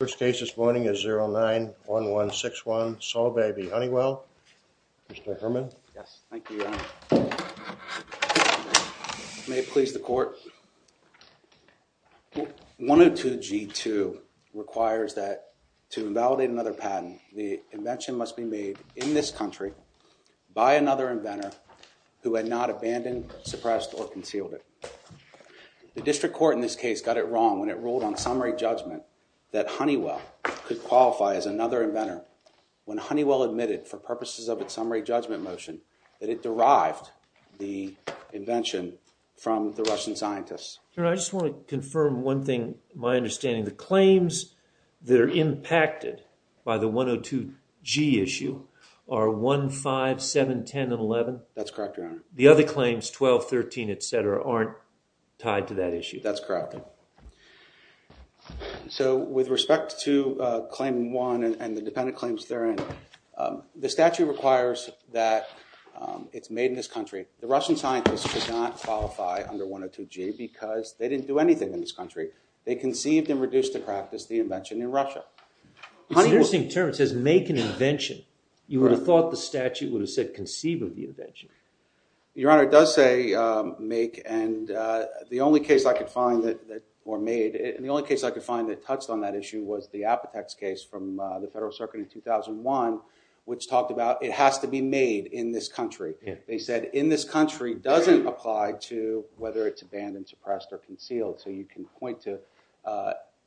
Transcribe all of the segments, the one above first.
First case this morning is 09-1161 Solvay v. Honeywell. Mr. Herman. Yes. Thank you, Your Honor. May it please the court. 102G2 requires that to invalidate another patent, the invention must be made in this country by another inventor who had not abandoned, suppressed, or concealed it. The district court in this case got it wrong when it ruled on summary judgment that Honeywell could qualify as another inventor. When Honeywell admitted for purposes of its summary judgment motion that it derived the invention from the Russian scientists. Your Honor, I just want to confirm one thing, my understanding. The claims that are impacted by the 102G issue are 1, 5, 7, 10, and 11? That's correct, Your Honor. The other claims 12, 13, etc. aren't tied to that issue? That's correct. So with respect to claim 1 and the dependent claims therein, the statute requires that it's made in this country. The Russian scientists could not qualify under 102G because they didn't do anything in this country. They conceived and reduced to practice the invention in Russia. It's an interesting term, it says make an invention. You would have thought the statute would have said conceive of the invention. Your Honor, it does say make, and the only case I could find that were made, and the only case I could find that touched on that issue was the Apotex case from the Federal Circuit in 2001, which talked about it has to be made in this country. They said in this country doesn't apply to whether it's abandoned, suppressed, or concealed. So you can point to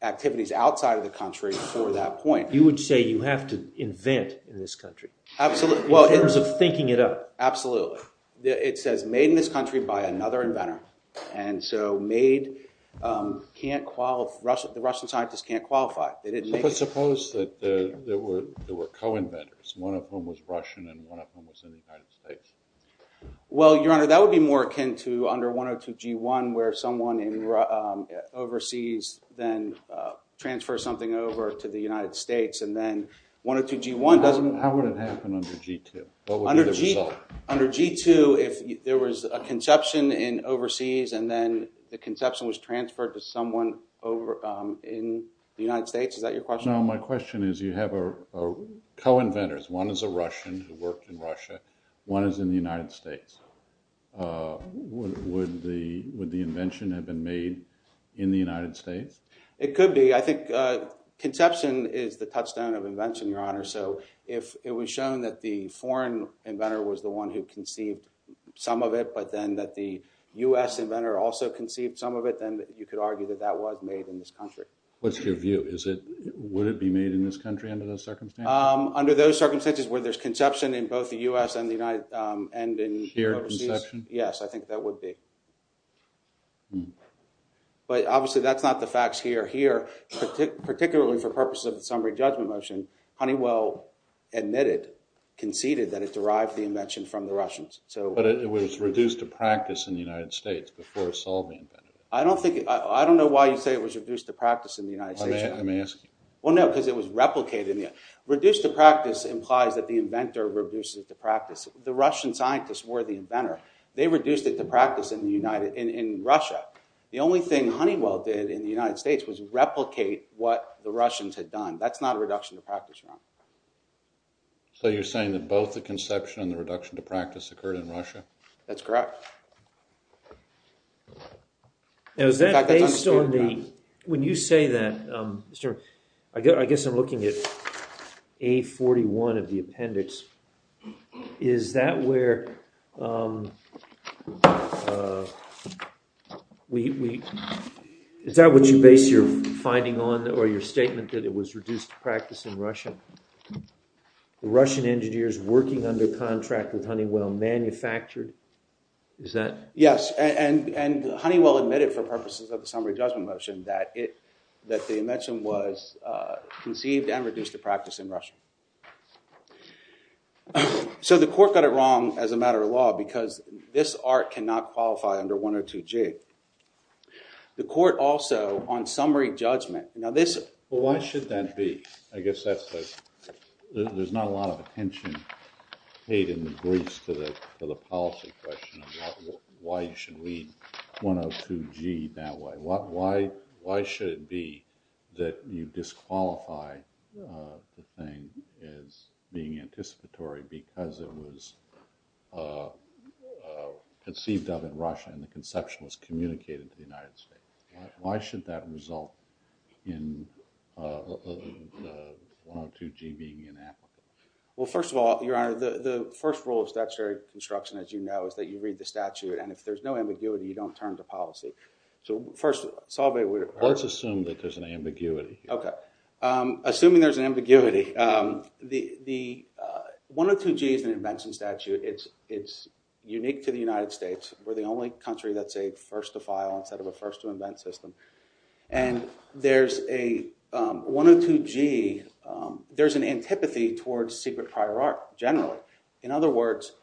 activities outside of the country for that point. You would say you have to invent in this country, in terms of thinking it up. Absolutely. It says made in this country by another inventor. And so made can't qualify, the Russian scientists can't qualify. But suppose that there were co-inventors, one of whom was Russian and one of whom was in the United States. Well, Your Honor, that would be more akin to under 102G1, where someone overseas then transfers something over to the United States, and then 102G1 doesn't- How would it happen under G2? What would be the result? Under G2, if there was a conception in overseas, and then the conception was transferred to someone in the United States, is that your question? No, my question is you have co-inventors. One is a Russian who worked in Russia, one is in the United States. Would the invention have been made in the United States? It could be. I think conception is the touchstone of invention, Your Honor. So if it was shown that the foreign inventor was the one who conceived some of it, but then that the U.S. inventor also conceived some of it, then you could argue that that was made in this country. What's your view? Would it be made in this country under those circumstances? Under those circumstances where there's conception in both the U.S. and the United- Here, conception? Yes, I think that would be. But obviously that's not the facts here. Here, particularly for purposes of the summary judgment motion, Honeywell admitted, conceded that it derived the invention from the Russians. But it was reduced to practice in the United States before Solvey invented it. I don't know why you say it was reduced to practice in the United States, Your Honor. Let me ask you. Well, no, because it was replicated. Reduced to practice implies that the inventor reduces it to practice. The Russian scientists were the inventor. They reduced it to practice in Russia. The only thing Honeywell did in the United States was replicate what the Russians had done. That's not a reduction to practice, Your Honor. So you're saying that both the conception and the reduction to practice occurred in Russia? That's correct. Now, is that based on the- When you say that, Mr. I guess I'm looking at A41 of the appendix. Is that where we- Is that what you base your finding on or your statement that it was reduced to practice in Russia? The Russian engineers working under contract with Honeywell manufactured- Is that- Yes, and Honeywell admitted for purposes of the summary judgment motion that the invention was conceived and reduced to practice in Russia. So the court got it wrong as a matter of law because this art cannot qualify under 102G. The court also, on summary judgment- Why should that be? I guess that's the- There's not a lot of attention paid in the briefs to the policy question of why you should read 102G that way. Why should it be that you disqualify the thing as being anticipatory because it was conceived of in Russia and the conception was communicated to the United States? Why should that result in 102G being inapplicable? Well, first of all, Your Honor, the first rule of statutory construction, as you know, is that you read the statute and if there's no ambiguity, you don't turn to policy. So first, Salve- Let's assume that there's an ambiguity. Okay. Assuming there's an ambiguity, the 102G is an invention statute. It's unique to the United States. We're the only country that's a first to file instead of a first to invent system. And there's a 102G- There's an antipathy towards secret prior art, generally. In other words,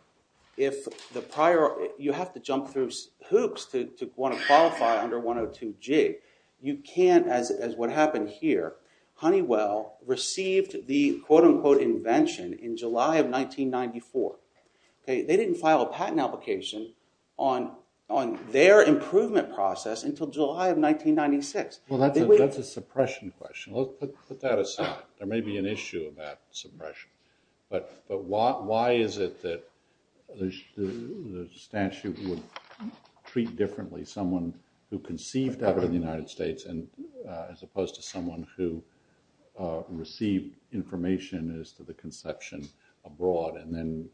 if the prior- You have to jump through hoops to want to qualify under 102G. You can't, as what happened here, Honeywell received the quote-unquote invention in July of 1994. They didn't file a patent application on their improvement process until July of 1996. Well, that's a suppression question. Let's put that aside. There may be an issue about suppression. But why is it that the statute would treat differently someone who conceived out of the United States as opposed to someone who received information as to the conception abroad and then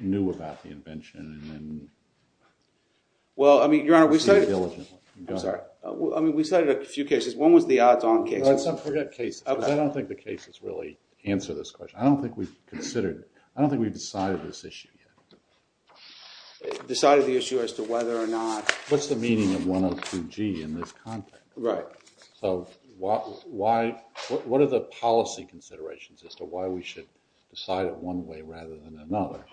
knew about the invention and then- Well, I mean, Your Honor, we cited- I'm sorry. I mean, we cited a few cases. One was the odds-on case. Let's not forget cases because I don't think the cases really answer this question. I don't think we've considered- I don't think we've decided this issue yet. Decided the issue as to whether or not- What's the meaning of 102G in this context? Right. So what are the policy considerations as to why we should decide it one way rather than another?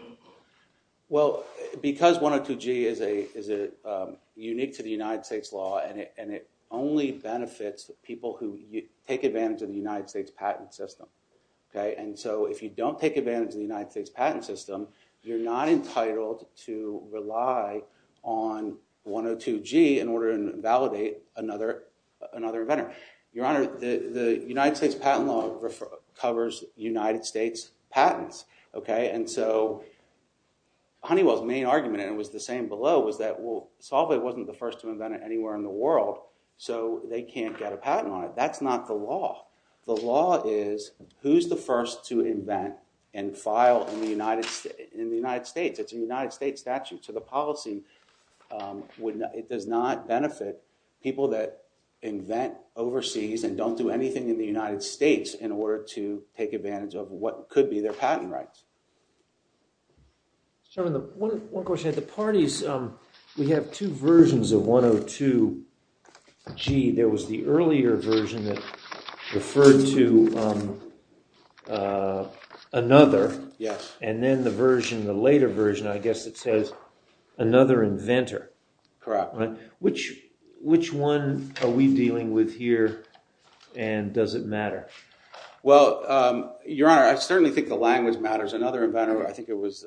Well, because 102G is unique to the United States law and it only benefits people who take advantage of the United States patent system. And so if you don't take advantage of the United States patent system, you're not entitled to rely on 102G in order to validate another inventor. Your Honor, the United States patent law covers United States patents. And so Honeywell's main argument, and it was the same below, was that Solvay wasn't the first to invent it anywhere in the world, so they can't get a patent on it. That's not the law. The law is who's the first to invent and file in the United States. It's a United States statute. So the policy, it does not benefit people that invent overseas and don't do anything in the United States in order to take advantage of what could be their patent rights. One question. At the parties, we have two versions of 102G. There was the earlier version that referred to another. Yes. And then the version, the later version, I guess it says another inventor. Correct. Which one are we dealing with here and does it matter? Well, Your Honor, I certainly think the language matters. Another inventor, I think it was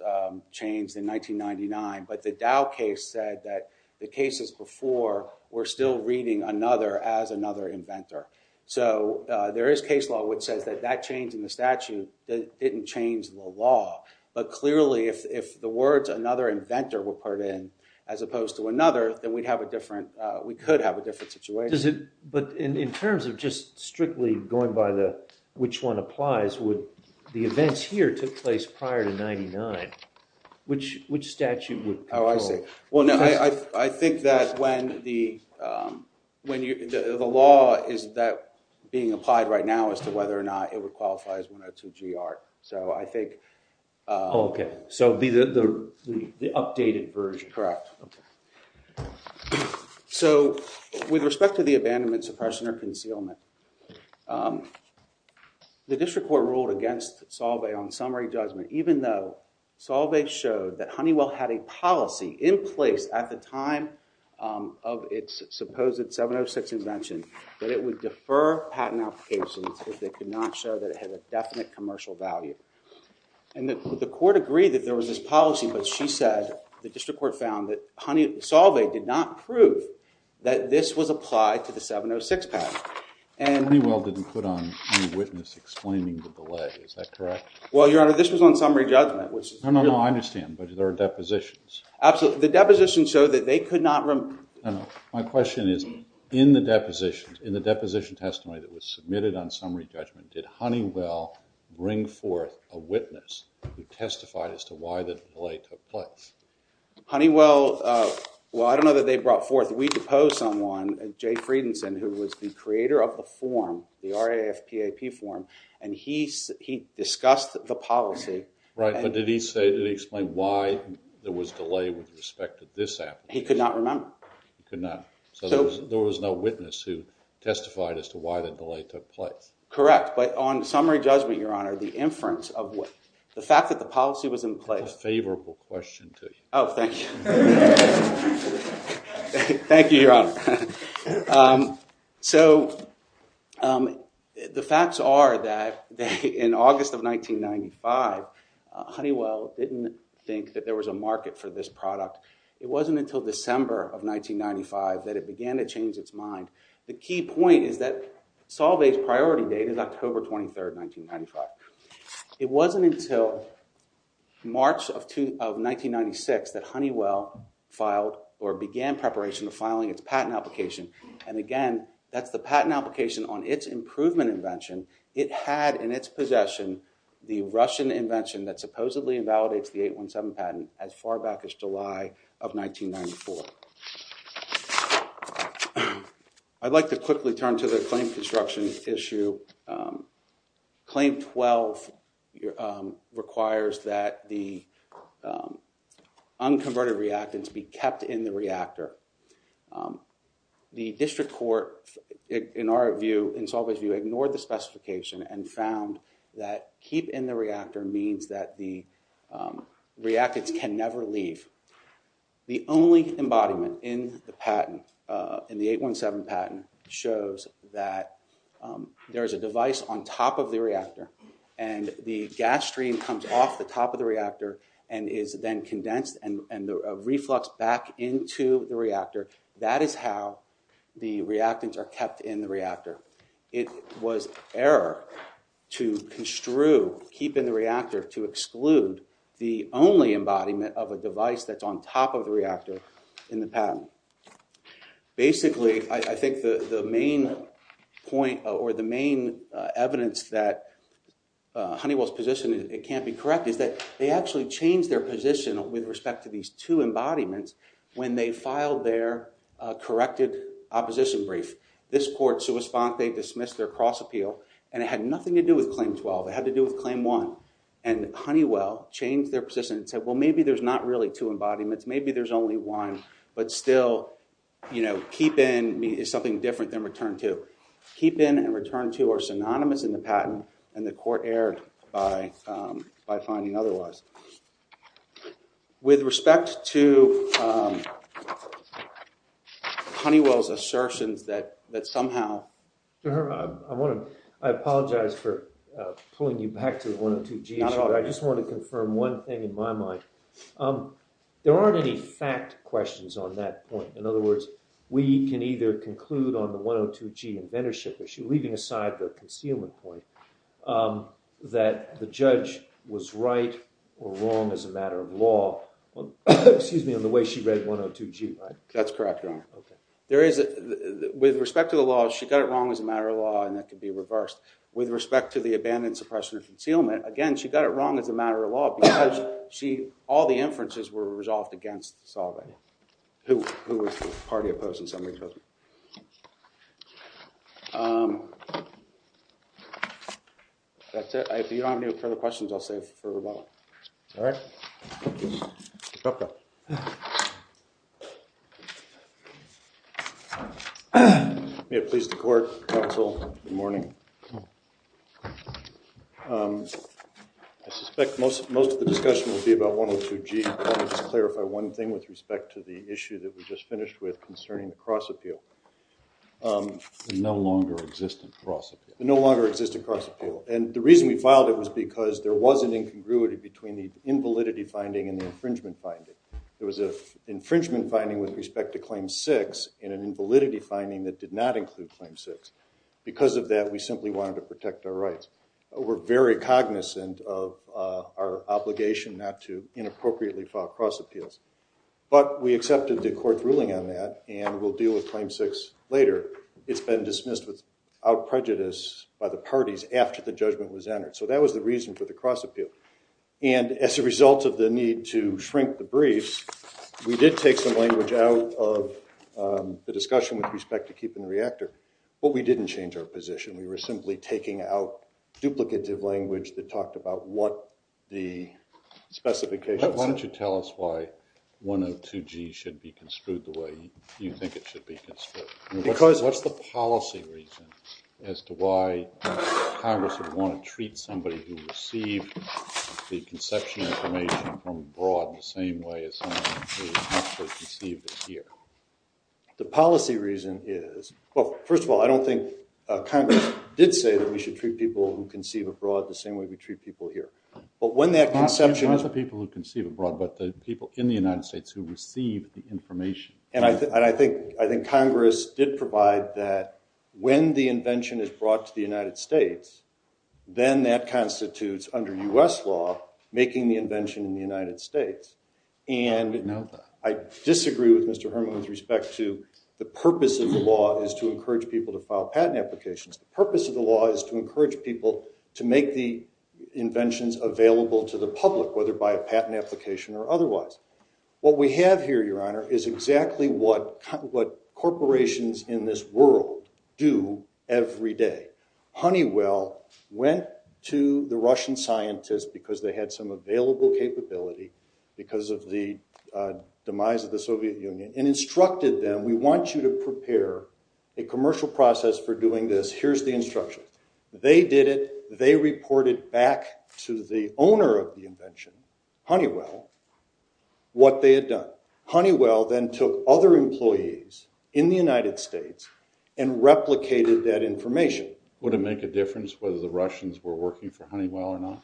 changed in 1999, but the Dow case said that the cases before were still reading another as another inventor. So there is case law which says that that change in the statute didn't change the law. But clearly, if the words another inventor were put in as opposed to another, then we'd have a different, we could have a different situation. But in terms of just strictly going by which one applies, the events here took place prior to 1999. Which statute would control? Oh, I see. Well, no, I think that when the law is being applied right now as to whether or not it would qualify as 102GR. So I think... Oh, okay. So the updated version. Correct. Okay. So with respect to the abandonment, suppression, or concealment, the district court ruled against Solvay on summary judgment, even though Solvay showed that Honeywell had a policy in place at the time of its supposed 706 invention that it would defer patent applications if they could not show that it had a definite commercial value. And the court agreed that there was this policy, but she said the district court found that Solvay did not prove that this was applied to the 706 patent. Honeywell didn't put on any witness explaining the delay. Is that correct? Well, Your Honor, this was on summary judgment. No, no, no. I understand. But there are depositions. Absolutely. The depositions show that they could not... My question is, in the depositions, in the deposition testimony that was submitted on summary judgment, did Honeywell bring forth a witness who testified as to why the delay took place? Honeywell, well, I don't know that they brought forth. We deposed someone, Jay Friedenson, who was the creator of the form, the RAFPAP form, and he discussed the policy. Right. But did he say, did he explain why there was delay with respect to this application? He could not remember. He could not. So there was no witness who testified as to why the delay took place. Correct. But on summary judgment, Your Honor, the inference of what... the fact that the policy was in place... That's a favorable question to you. Oh, thank you. Thank you, Your Honor. So the facts are that in August of 1995, Honeywell didn't think that there was a market for this product. It wasn't until December of 1995 that it began to change its mind. The key point is that Solvay's priority date is October 23rd, 1995. It wasn't until March of 1996 that Honeywell filed or began preparation of filing its patent application. And again, that's the patent application on its improvement invention. It had in its possession the Russian invention that supposedly invalidates the 817 patent as far back as July of 1994. I'd like to quickly turn to the claim construction issue. Claim 12 requires that the unconverted reactants be kept in the reactor. The district court, in our view, in Solvay's view, ignored the specification and found that keep in the reactor means that the reactants can never leave. The only embodiment in the patent, in the 817 patent, shows that there is a device on top of the reactor and the gas stream comes off the top of the reactor and is then condensed and refluxed back into the reactor. That is how the reactants are kept in the reactor. It was error to construe keep in the reactor to exclude the only embodiment of a device that's on top of the reactor in the patent. Basically, I think the main point or the main evidence that Honeywell's position can't be corrected is that they actually changed their position with respect to these two embodiments when they filed their corrected opposition brief. This court, sua sponte, dismissed their cross-appeal and it had nothing to do with claim 12. It had to do with claim 1. And Honeywell changed their position and said, well, maybe there's not really two embodiments. Maybe there's only one, but still keep in is something different than return to. Keep in and return to are synonymous in the patent and the court erred by finding otherwise. With respect to Honeywell's assertions that somehow... I apologize for pulling you back to the 102G issue. I just want to confirm one thing in my mind. There aren't any fact questions on that point. In other words, we can either conclude on the 102G inventorship issue, leaving aside the concealment point, that the judge was right or wrong as a matter of law. Excuse me, on the way she read 102G, right? That's correct, Your Honor. With respect to the law, she got it wrong as a matter of law and that could be reversed. With respect to the abandoned suppression of concealment, again, she got it wrong as a matter of law because all the inferences were resolved against the solver, who was the party opposed and somebody opposed. That's it. If you don't have any further questions, I'll save them for rebuttal. All right. May it please the court, counsel. Good morning. Good morning. I suspect most of the discussion will be about 102G. I want to just clarify one thing with respect to the issue that we just finished with concerning the cross appeal. The no longer existent cross appeal. The no longer existent cross appeal. And the reason we filed it was because there was an incongruity between the invalidity finding and the infringement finding. There was an infringement finding with respect to Claim 6 and an invalidity finding that did not include Claim 6. Because of that, we simply wanted to protect our rights. We're very cognizant of our obligation not to inappropriately file cross appeals. But we accepted the court's ruling on that and we'll deal with Claim 6 later. It's been dismissed without prejudice by the parties after the judgment was entered. So that was the reason for the cross appeal. And as a result of the need to shrink the briefs, we did take some language out of the discussion with respect to keeping the reactor. But we didn't change our position. We were simply taking out duplicative language that talked about what the specifications. Why don't you tell us why 102G should be construed the way you think it should be construed? What's the policy reason as to why Congress would want to treat somebody who received the conception information from abroad the same way as someone who actually received it here? The policy reason is, well, first of all, I don't think Congress did say that we should treat people who conceive abroad the same way we treat people here. But when that conception… Not the people who conceive abroad, but the people in the United States who receive the information. And I think Congress did provide that when the invention is brought to the United States, then that constitutes, under U.S. law, making the invention in the United States. I didn't know that. I disagree with Mr. Herman with respect to the purpose of the law is to encourage people to file patent applications. The purpose of the law is to encourage people to make the inventions available to the public, whether by a patent application or otherwise. What we have here, Your Honor, is exactly what corporations in this world do every day. Honeywell went to the Russian scientists because they had some available capability because of the demise of the Soviet Union and instructed them, we want you to prepare a commercial process for doing this. Here's the instruction. They did it. They reported back to the owner of the invention, Honeywell, what they had done. Honeywell then took other employees in the United States and replicated that information. Would it make a difference whether the Russians were working for Honeywell or not?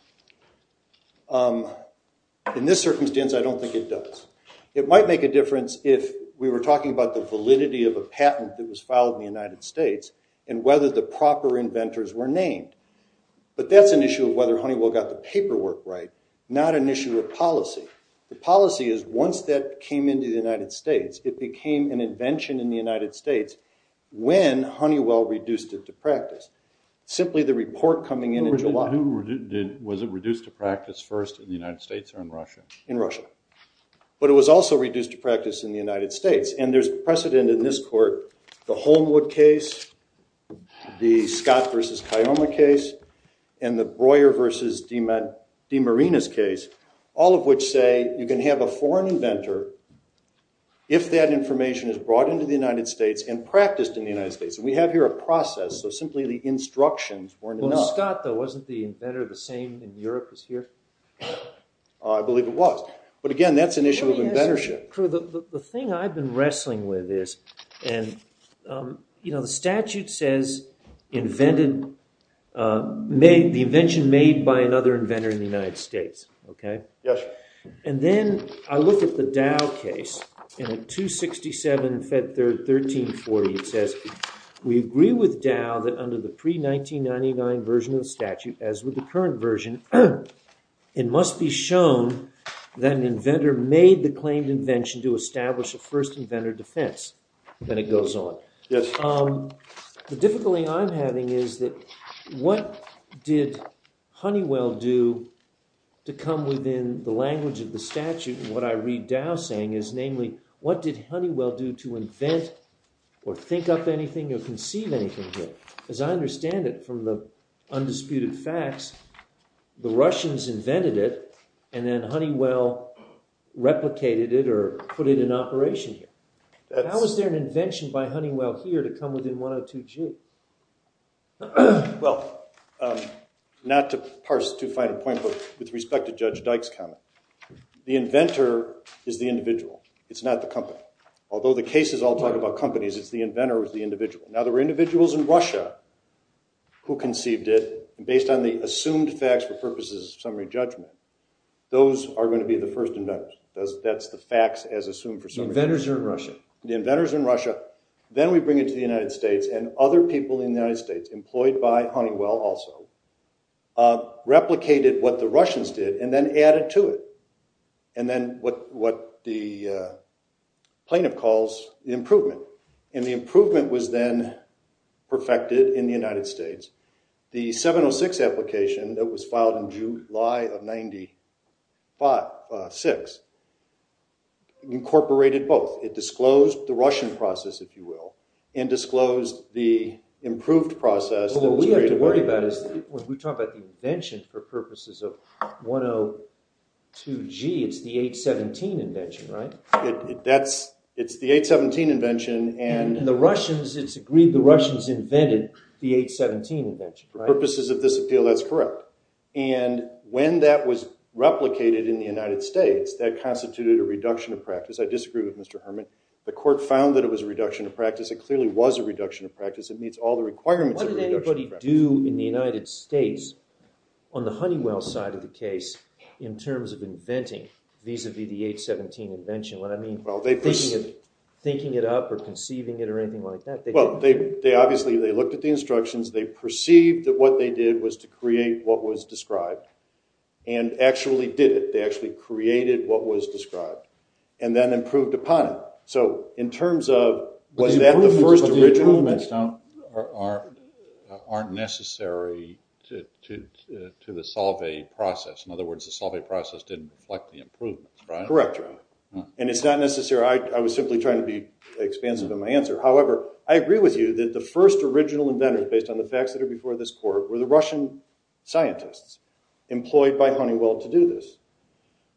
In this circumstance, I don't think it does. It might make a difference if we were talking about the validity of a patent that was filed in the United States and whether the proper inventors were named. But that's an issue of whether Honeywell got the paperwork right, not an issue of policy. The policy is once that came into the United States, it became an invention in the United States when Honeywell reduced it to practice. Simply the report coming in in July. Was it reduced to practice first in the United States or in Russia? In Russia. But it was also reduced to practice in the United States. And there's precedent in this court, the Holmwood case, the Scott v. Kiyoma case, and the Breuer v. DiMarina's case, all of which say you can have a foreign inventor if that information is brought into the United States and practiced in the United States. And we have here a process, so simply the instructions weren't enough. Well, Scott, though, wasn't the inventor the same in Europe as here? I believe it was. But, again, that's an issue of inventorship. The thing I've been wrestling with is the statute says the invention made by another inventor in the United States. And then I look at the Dow case, and at 267 Fed 1340, it says, we agree with Dow that under the pre-1999 version of the statute, as with the current version, it must be shown that an inventor made the claimed invention to establish a first inventor defense. Then it goes on. Yes. The difficulty I'm having is that what did Honeywell do to come within the language of the statute? And what I read Dow saying is, namely, what did Honeywell do to invent or think up anything or conceive anything here? As I understand it from the undisputed facts, the Russians invented it, and then Honeywell replicated it or put it in operation here. How is there an invention by Honeywell here to come within 102G? Well, not to parse too fine a point, but with respect to Judge Dykes' comment, the inventor is the individual. It's not the company. Although the cases all talk about companies, it's the inventor who's the individual. Now, there were individuals in Russia who conceived it. Based on the assumed facts for purposes of summary judgment, those are going to be the first inventors. That's the facts as assumed for summary judgment. The inventors are in Russia. The inventors are in Russia. Then we bring it to the United States, and other people in the United States, employed by Honeywell also, replicated what the Russians did and then added to it. And then what the plaintiff calls improvement. And the improvement was then perfected in the United States. The 706 application that was filed in July of 96 incorporated both. It disclosed the Russian process, if you will, and disclosed the improved process. Well, what we have to worry about is when we talk about the invention for purposes of 102G, it's the 817 invention, right? It's the 817 invention. And the Russians, it's agreed the Russians invented the 817 invention, right? For purposes of this appeal, that's correct. And when that was replicated in the United States, that constituted a reduction of practice. I disagree with Mr. Herman. The court found that it was a reduction of practice. It clearly was a reduction of practice. It meets all the requirements of reduction of practice. What did anybody do in the United States on the Honeywell side of the case in terms of inventing vis-a-vis the 817 invention? What I mean, thinking it up or conceiving it or anything like that? Well, they obviously looked at the instructions. They perceived that what they did was to create what was described and actually did it. They actually created what was described and then improved upon it. So in terms of was that the first original invention? Those aren't necessary to the Solvay process. In other words, the Solvay process didn't reflect the improvements, right? Correct, Your Honor. And it's not necessary. I was simply trying to be expansive in my answer. However, I agree with you that the first original inventors, based on the facts that are before this court, were the Russian scientists employed by Honeywell to do this.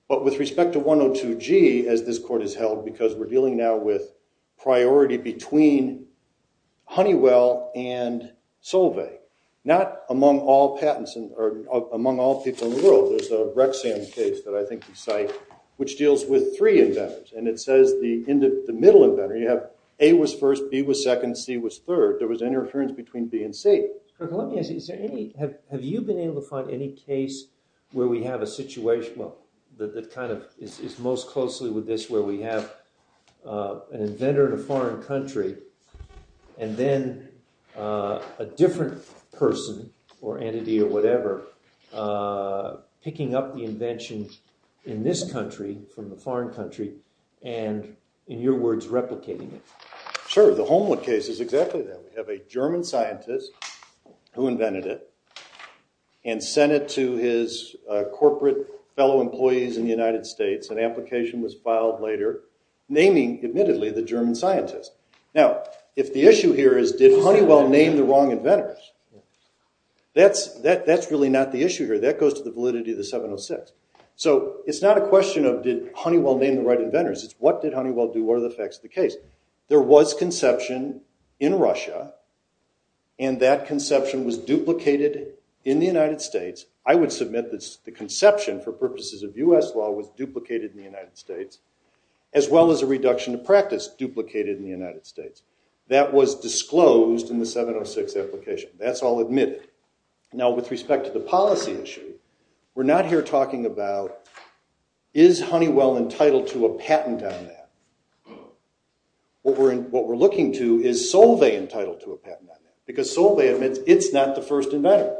But with respect to 102G, as this court has held, because we're dealing now with priority between Honeywell and Solvay, not among all patents or among all people in the world. There's a Rexham case that I think you cite, which deals with three inventors. And it says the middle inventor, you have A was first, B was second, C was third. There was interference between B and C. Have you been able to find any case where we have a situation that kind of is most closely with this, where we have an inventor in a foreign country and then a different person or entity or whatever picking up the invention in this country from a foreign country and, in your words, replicating it? Sure. The Holmwood case is exactly that. We have a German scientist who invented it and sent it to his corporate fellow employees in the United States. An application was filed later naming, admittedly, the German scientist. Now, if the issue here is did Honeywell name the wrong inventors, that's really not the issue here. That goes to the validity of the 706. So it's not a question of did Honeywell name the right inventors. It's what did Honeywell do? What are the facts of the case? There was conception in Russia, and that conception was duplicated in the United States. I would submit that the conception, for purposes of US law, was duplicated in the United States, as well as a reduction of practice duplicated in the United States. That was disclosed in the 706 application. That's all admitted. Now, with respect to the policy issue, we're not here talking about is Honeywell entitled to a patent on that. What we're looking to is Solvay entitled to a patent on that, because Solvay admits it's not the first inventor.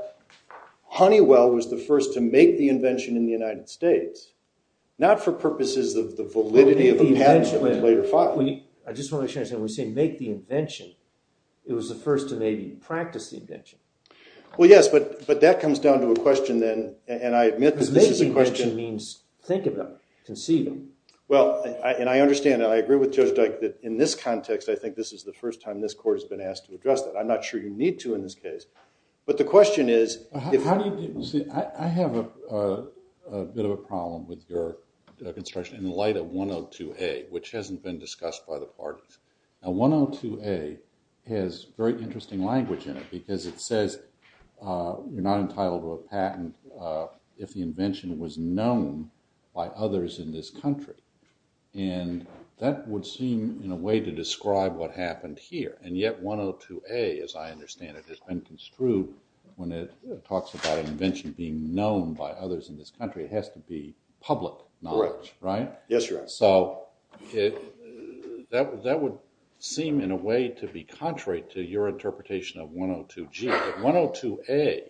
Honeywell was the first to make the invention in the United States, not for purposes of the validity of the patent that was later filed. I just want to make sure I understand. When we say make the invention, it was the first to maybe practice the invention. Well, yes, but that comes down to a question, then, and I admit that this is a question— Because make the invention means think of them, conceive them. Well, and I understand, and I agree with Judge Dyke that in this context, I think this is the first time this court has been asked to address that. I'm not sure you need to in this case. But the question is— How do you— See, I have a bit of a problem with your construction in light of 102A, which hasn't been discussed by the parties. Now, 102A has very interesting language in it, because it says you're not entitled to a patent if the invention was known by others in this country. And that would seem, in a way, to describe what happened here. And yet, 102A, as I understand it, has been construed when it talks about an invention being known by others in this country. It has to be public knowledge, right? Correct. Yes, Your Honor. So, that would seem, in a way, to be contrary to your interpretation of 102G. 102A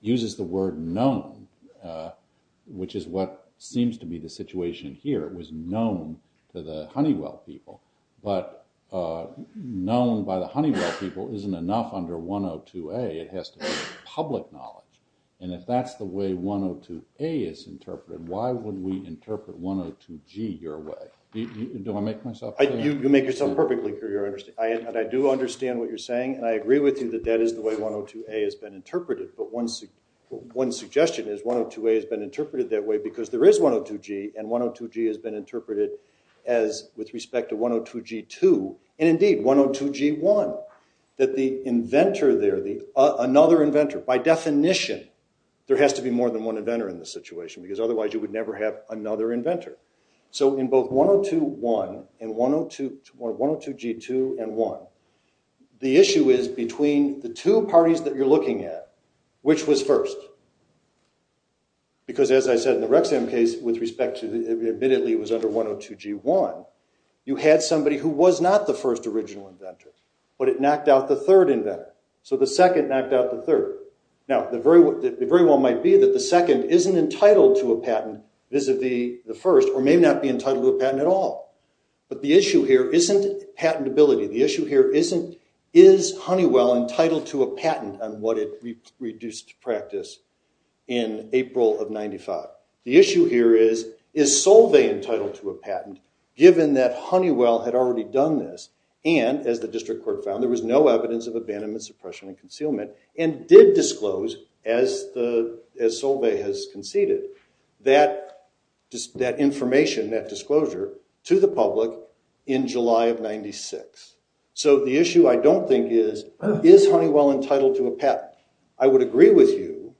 uses the word known, which is what seems to be the situation here. It was known to the Honeywell people. But known by the Honeywell people isn't enough under 102A. It has to be public knowledge. And if that's the way 102A is interpreted, why would we interpret 102G your way? Do I make myself clear? You make yourself perfectly clear, Your Honor. And I do understand what you're saying, and I agree with you that that is the way 102A has been interpreted. But one suggestion is 102A has been interpreted that way because there is 102G, and 102G has been interpreted with respect to 102G2, and indeed, 102G1. That the inventor there, another inventor, by definition, there has to be more than one inventor in this situation, because otherwise you would never have another inventor. So, in both 102G1 and 102G2 and 1, the issue is between the two parties that you're looking at, which was first? Because as I said in the Rexham case, with respect to, admittedly, it was under 102G1, you had somebody who was not the first original inventor, but it knocked out the third inventor. So the second knocked out the third. Now, the very well might be that the second isn't entitled to a patent vis-a-vis the first, or may not be entitled to a patent at all. But the issue here isn't patentability. The issue here isn't is Honeywell entitled to a patent on what it reduced to practice in April of 95? The issue here is, is Solvay entitled to a patent, given that Honeywell had already done this, and, as the district court found, there was no evidence of abandonment, suppression, and concealment, and did disclose, as Solvay has conceded, that information, that disclosure, to the public in July of 96? So the issue, I don't think, is is Honeywell entitled to a patent? I would agree with you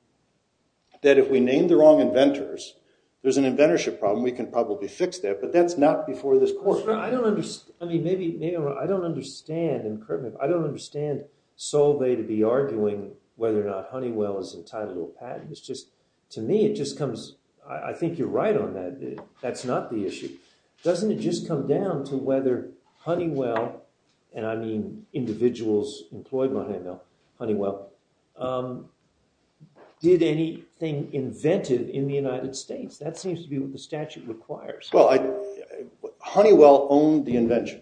that if we name the wrong inventors, there's an inventorship problem. We can probably fix that. But that's not before this court. I don't understand. I mean, maybe I'm wrong. I don't understand, and correct me if I don't understand Solvay to be arguing whether or not Honeywell is entitled to a patent. It's just, to me, it just comes, I think you're right on that. That's not the issue. Doesn't it just come down to whether Honeywell, and I mean individuals employed by Honeywell, did anything inventive in the United States? That seems to be what the statute requires. Well, Honeywell owned the invention.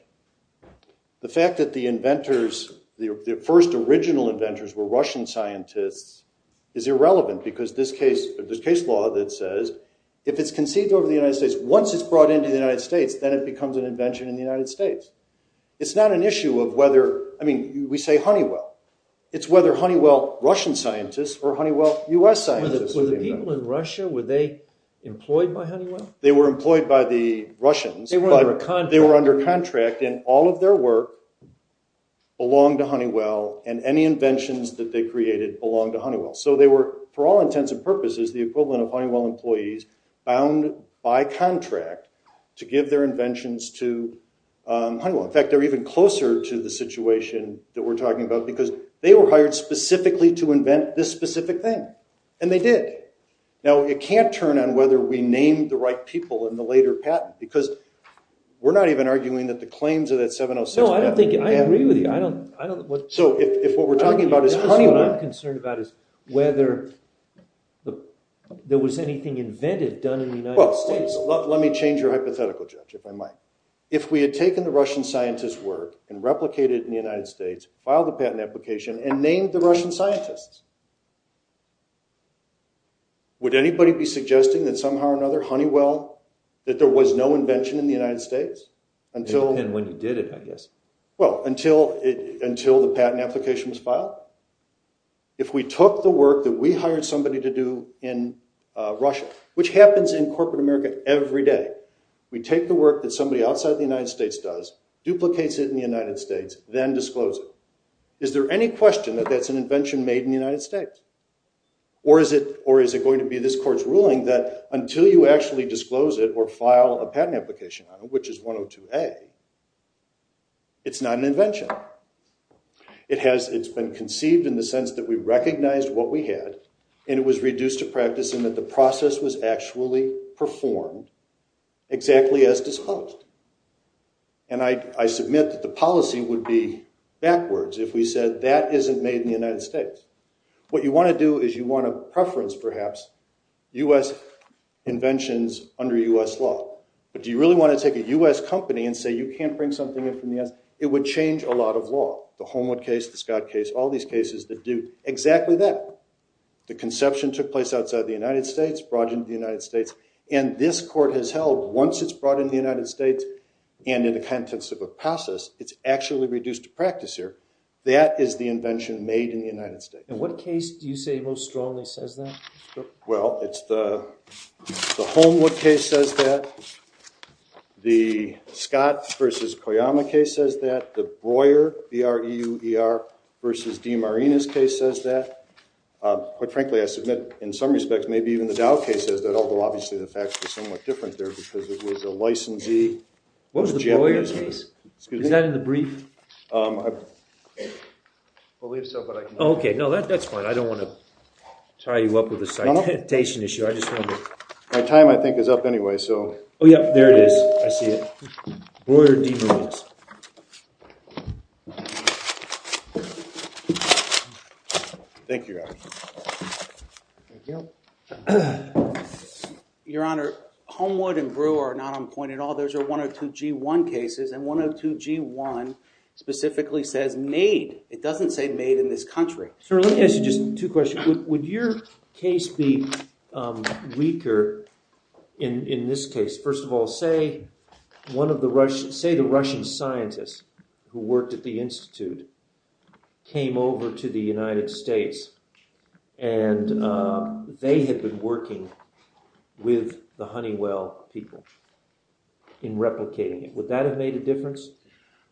The fact that the inventors, the first original inventors were Russian scientists, is irrelevant, because this case law that says if it's conceived over the United States, once it's brought into the United States, then it becomes an invention in the United States. It's not an issue of whether, I mean, we say Honeywell. It's whether Honeywell, Russian scientists, or Honeywell, U.S. scientists. Were the people in Russia, were they employed by Honeywell? They were employed by the Russians. They were under contract. They were under contract, and all of their work belonged to Honeywell, and any inventions that they created belonged to Honeywell. So they were, for all intents and purposes, the equivalent of Honeywell employees bound by contract to give their inventions to Honeywell. In fact, they're even closer to the situation that we're talking about, because they were hired specifically to invent this specific thing, and they did. Now, it can't turn on whether we named the right people in the later patent, because we're not even arguing that the claims of that 706… No, I agree with you. So if what we're talking about is Honeywell… What I'm concerned about is whether there was anything invented done in the United States. Well, let me change your hypothetical, Judge, if I might. If we had taken the Russian scientists' work and replicated it in the United States, filed a patent application, and named the Russian scientists, would anybody be suggesting that somehow or another Honeywell, that there was no invention in the United States? It would depend when you did it, I guess. Well, until the patent application was filed? If we took the work that we hired somebody to do in Russia, which happens in corporate America every day, we take the work that somebody outside the United States does, duplicates it in the United States, then discloses it, is there any question that that's an invention made in the United States? Or is it going to be this court's ruling that until you actually disclose it or file a patent application on it, which is 102A, it's not an invention? It's been conceived in the sense that we recognized what we had, and it was reduced to practice in that the process was actually performed exactly as disclosed. And I submit that the policy would be backwards if we said that isn't made in the United States. What you want to do is you want to preference, perhaps, U.S. inventions under U.S. law. But do you really want to take a U.S. company and say you can't bring something in from the U.S.? It would change a lot of law. The Homewood case, the Scott case, all these cases that do exactly that. The conception took place outside the United States, brought into the United States, and this court has held once it's brought into the United States and in the context of a process, it's actually reduced to practice here. That is the invention made in the United States. And what case do you say most strongly says that? Well, it's the Homewood case says that. The Scott versus Koyama case says that. The Breuer, B-R-E-U-E-R, versus DeMarinis case says that. Quite frankly, I submit, in some respects, maybe even the Dow case says that, although obviously the facts are somewhat different there because it was a licensee. What was the Breuer case? Excuse me? Is that in the brief? I believe so, but I can't remember. Okay. No, that's fine. I don't want to tie you up with a citation issue. My time, I think, is up anyway. Oh, yeah. There it is. I see it. Breuer, DeMarinis. Thank you, Your Honor. Your Honor, Homewood and Breuer are not on point at all. Those are 102G1 cases, and 102G1 specifically says made. It doesn't say made in this country. Sir, let me ask you just two questions. Would your case be weaker in this case? First of all, say the Russian scientists who worked at the Institute came over to the United States, and they had been working with the Honeywell people in replicating it. Would that have made a difference?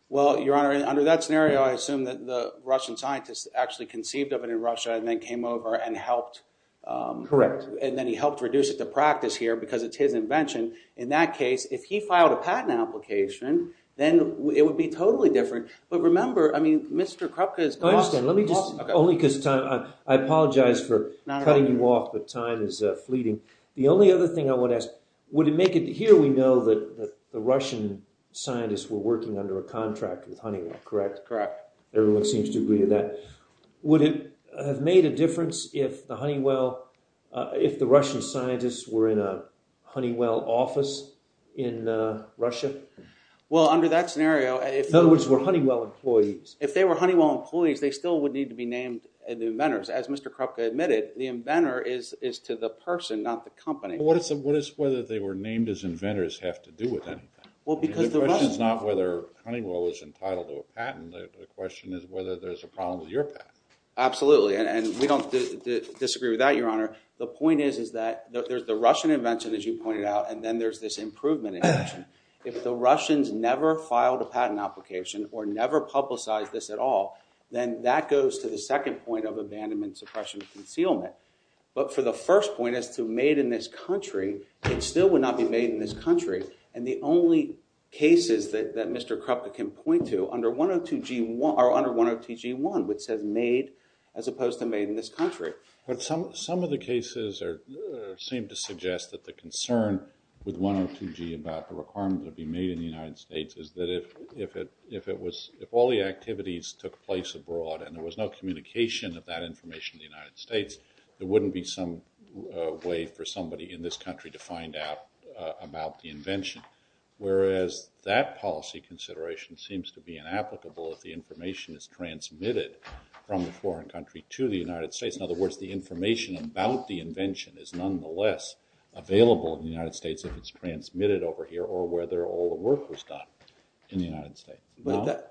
Well, Your Honor, under that scenario, I assume that the Russian scientists actually conceived of it in Russia and then came over and helped. Correct. And then he helped reduce it to practice here because it's his invention. In that case, if he filed a patent application, then it would be totally different. But remember, I mean, Mr. Krupka's boss… I apologize for cutting you off, but time is fleeting. The only other thing I want to ask, would it make it… Here we know that the Russian scientists were working under a contract with Honeywell, correct? Correct. Everyone seems to agree with that. Would it have made a difference if the Russian scientists were in a Honeywell office in Russia? Well, under that scenario… In other words, were Honeywell employees… If they were Honeywell employees, they still would need to be named inventors. As Mr. Krupka admitted, the inventor is to the person, not the company. What does whether they were named as inventors have to do with anything? The question is not whether Honeywell was entitled to a patent. The question is whether there's a problem with your patent. Absolutely, and we don't disagree with that, Your Honor. The point is that there's the Russian invention, as you pointed out, and then there's this improvement invention. If the Russians never filed a patent application or never publicized this at all, then that goes to the second point of abandonment, suppression, and concealment. But for the first point as to made in this country, it still would not be made in this country. And the only cases that Mr. Krupka can point to are under 102G1, which says made as opposed to made in this country. But some of the cases seem to suggest that the concern with 102G about the requirement of being made in the United States is that if all the activities took place abroad and there was no communication of that information in the United States, there wouldn't be some way for somebody in this country to find out about the invention. Whereas that policy consideration seems to be inapplicable if the information is transmitted from the foreign country to the United States. In other words, the information about the invention is nonetheless available in the United States if it's transmitted over here or whether all the work was done in the United States.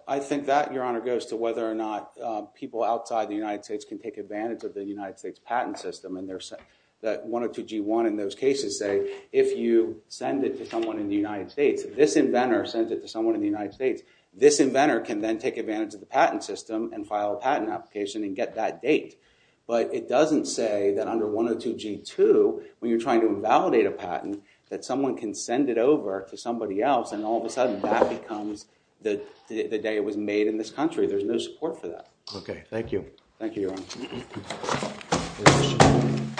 I think that, Your Honor, goes to whether or not people outside the United States can take advantage of the United States patent system. And 102G1 in those cases say if you send it to someone in the United States, this inventor sends it to someone in the United States, this inventor can then take advantage of the patent system and file a patent application and get that date. But it doesn't say that under 102G2, when you're trying to invalidate a patent, that someone can send it over to somebody else and all of a sudden that becomes the day it was made in this country. There's no support for that. Thank you, Your Honor.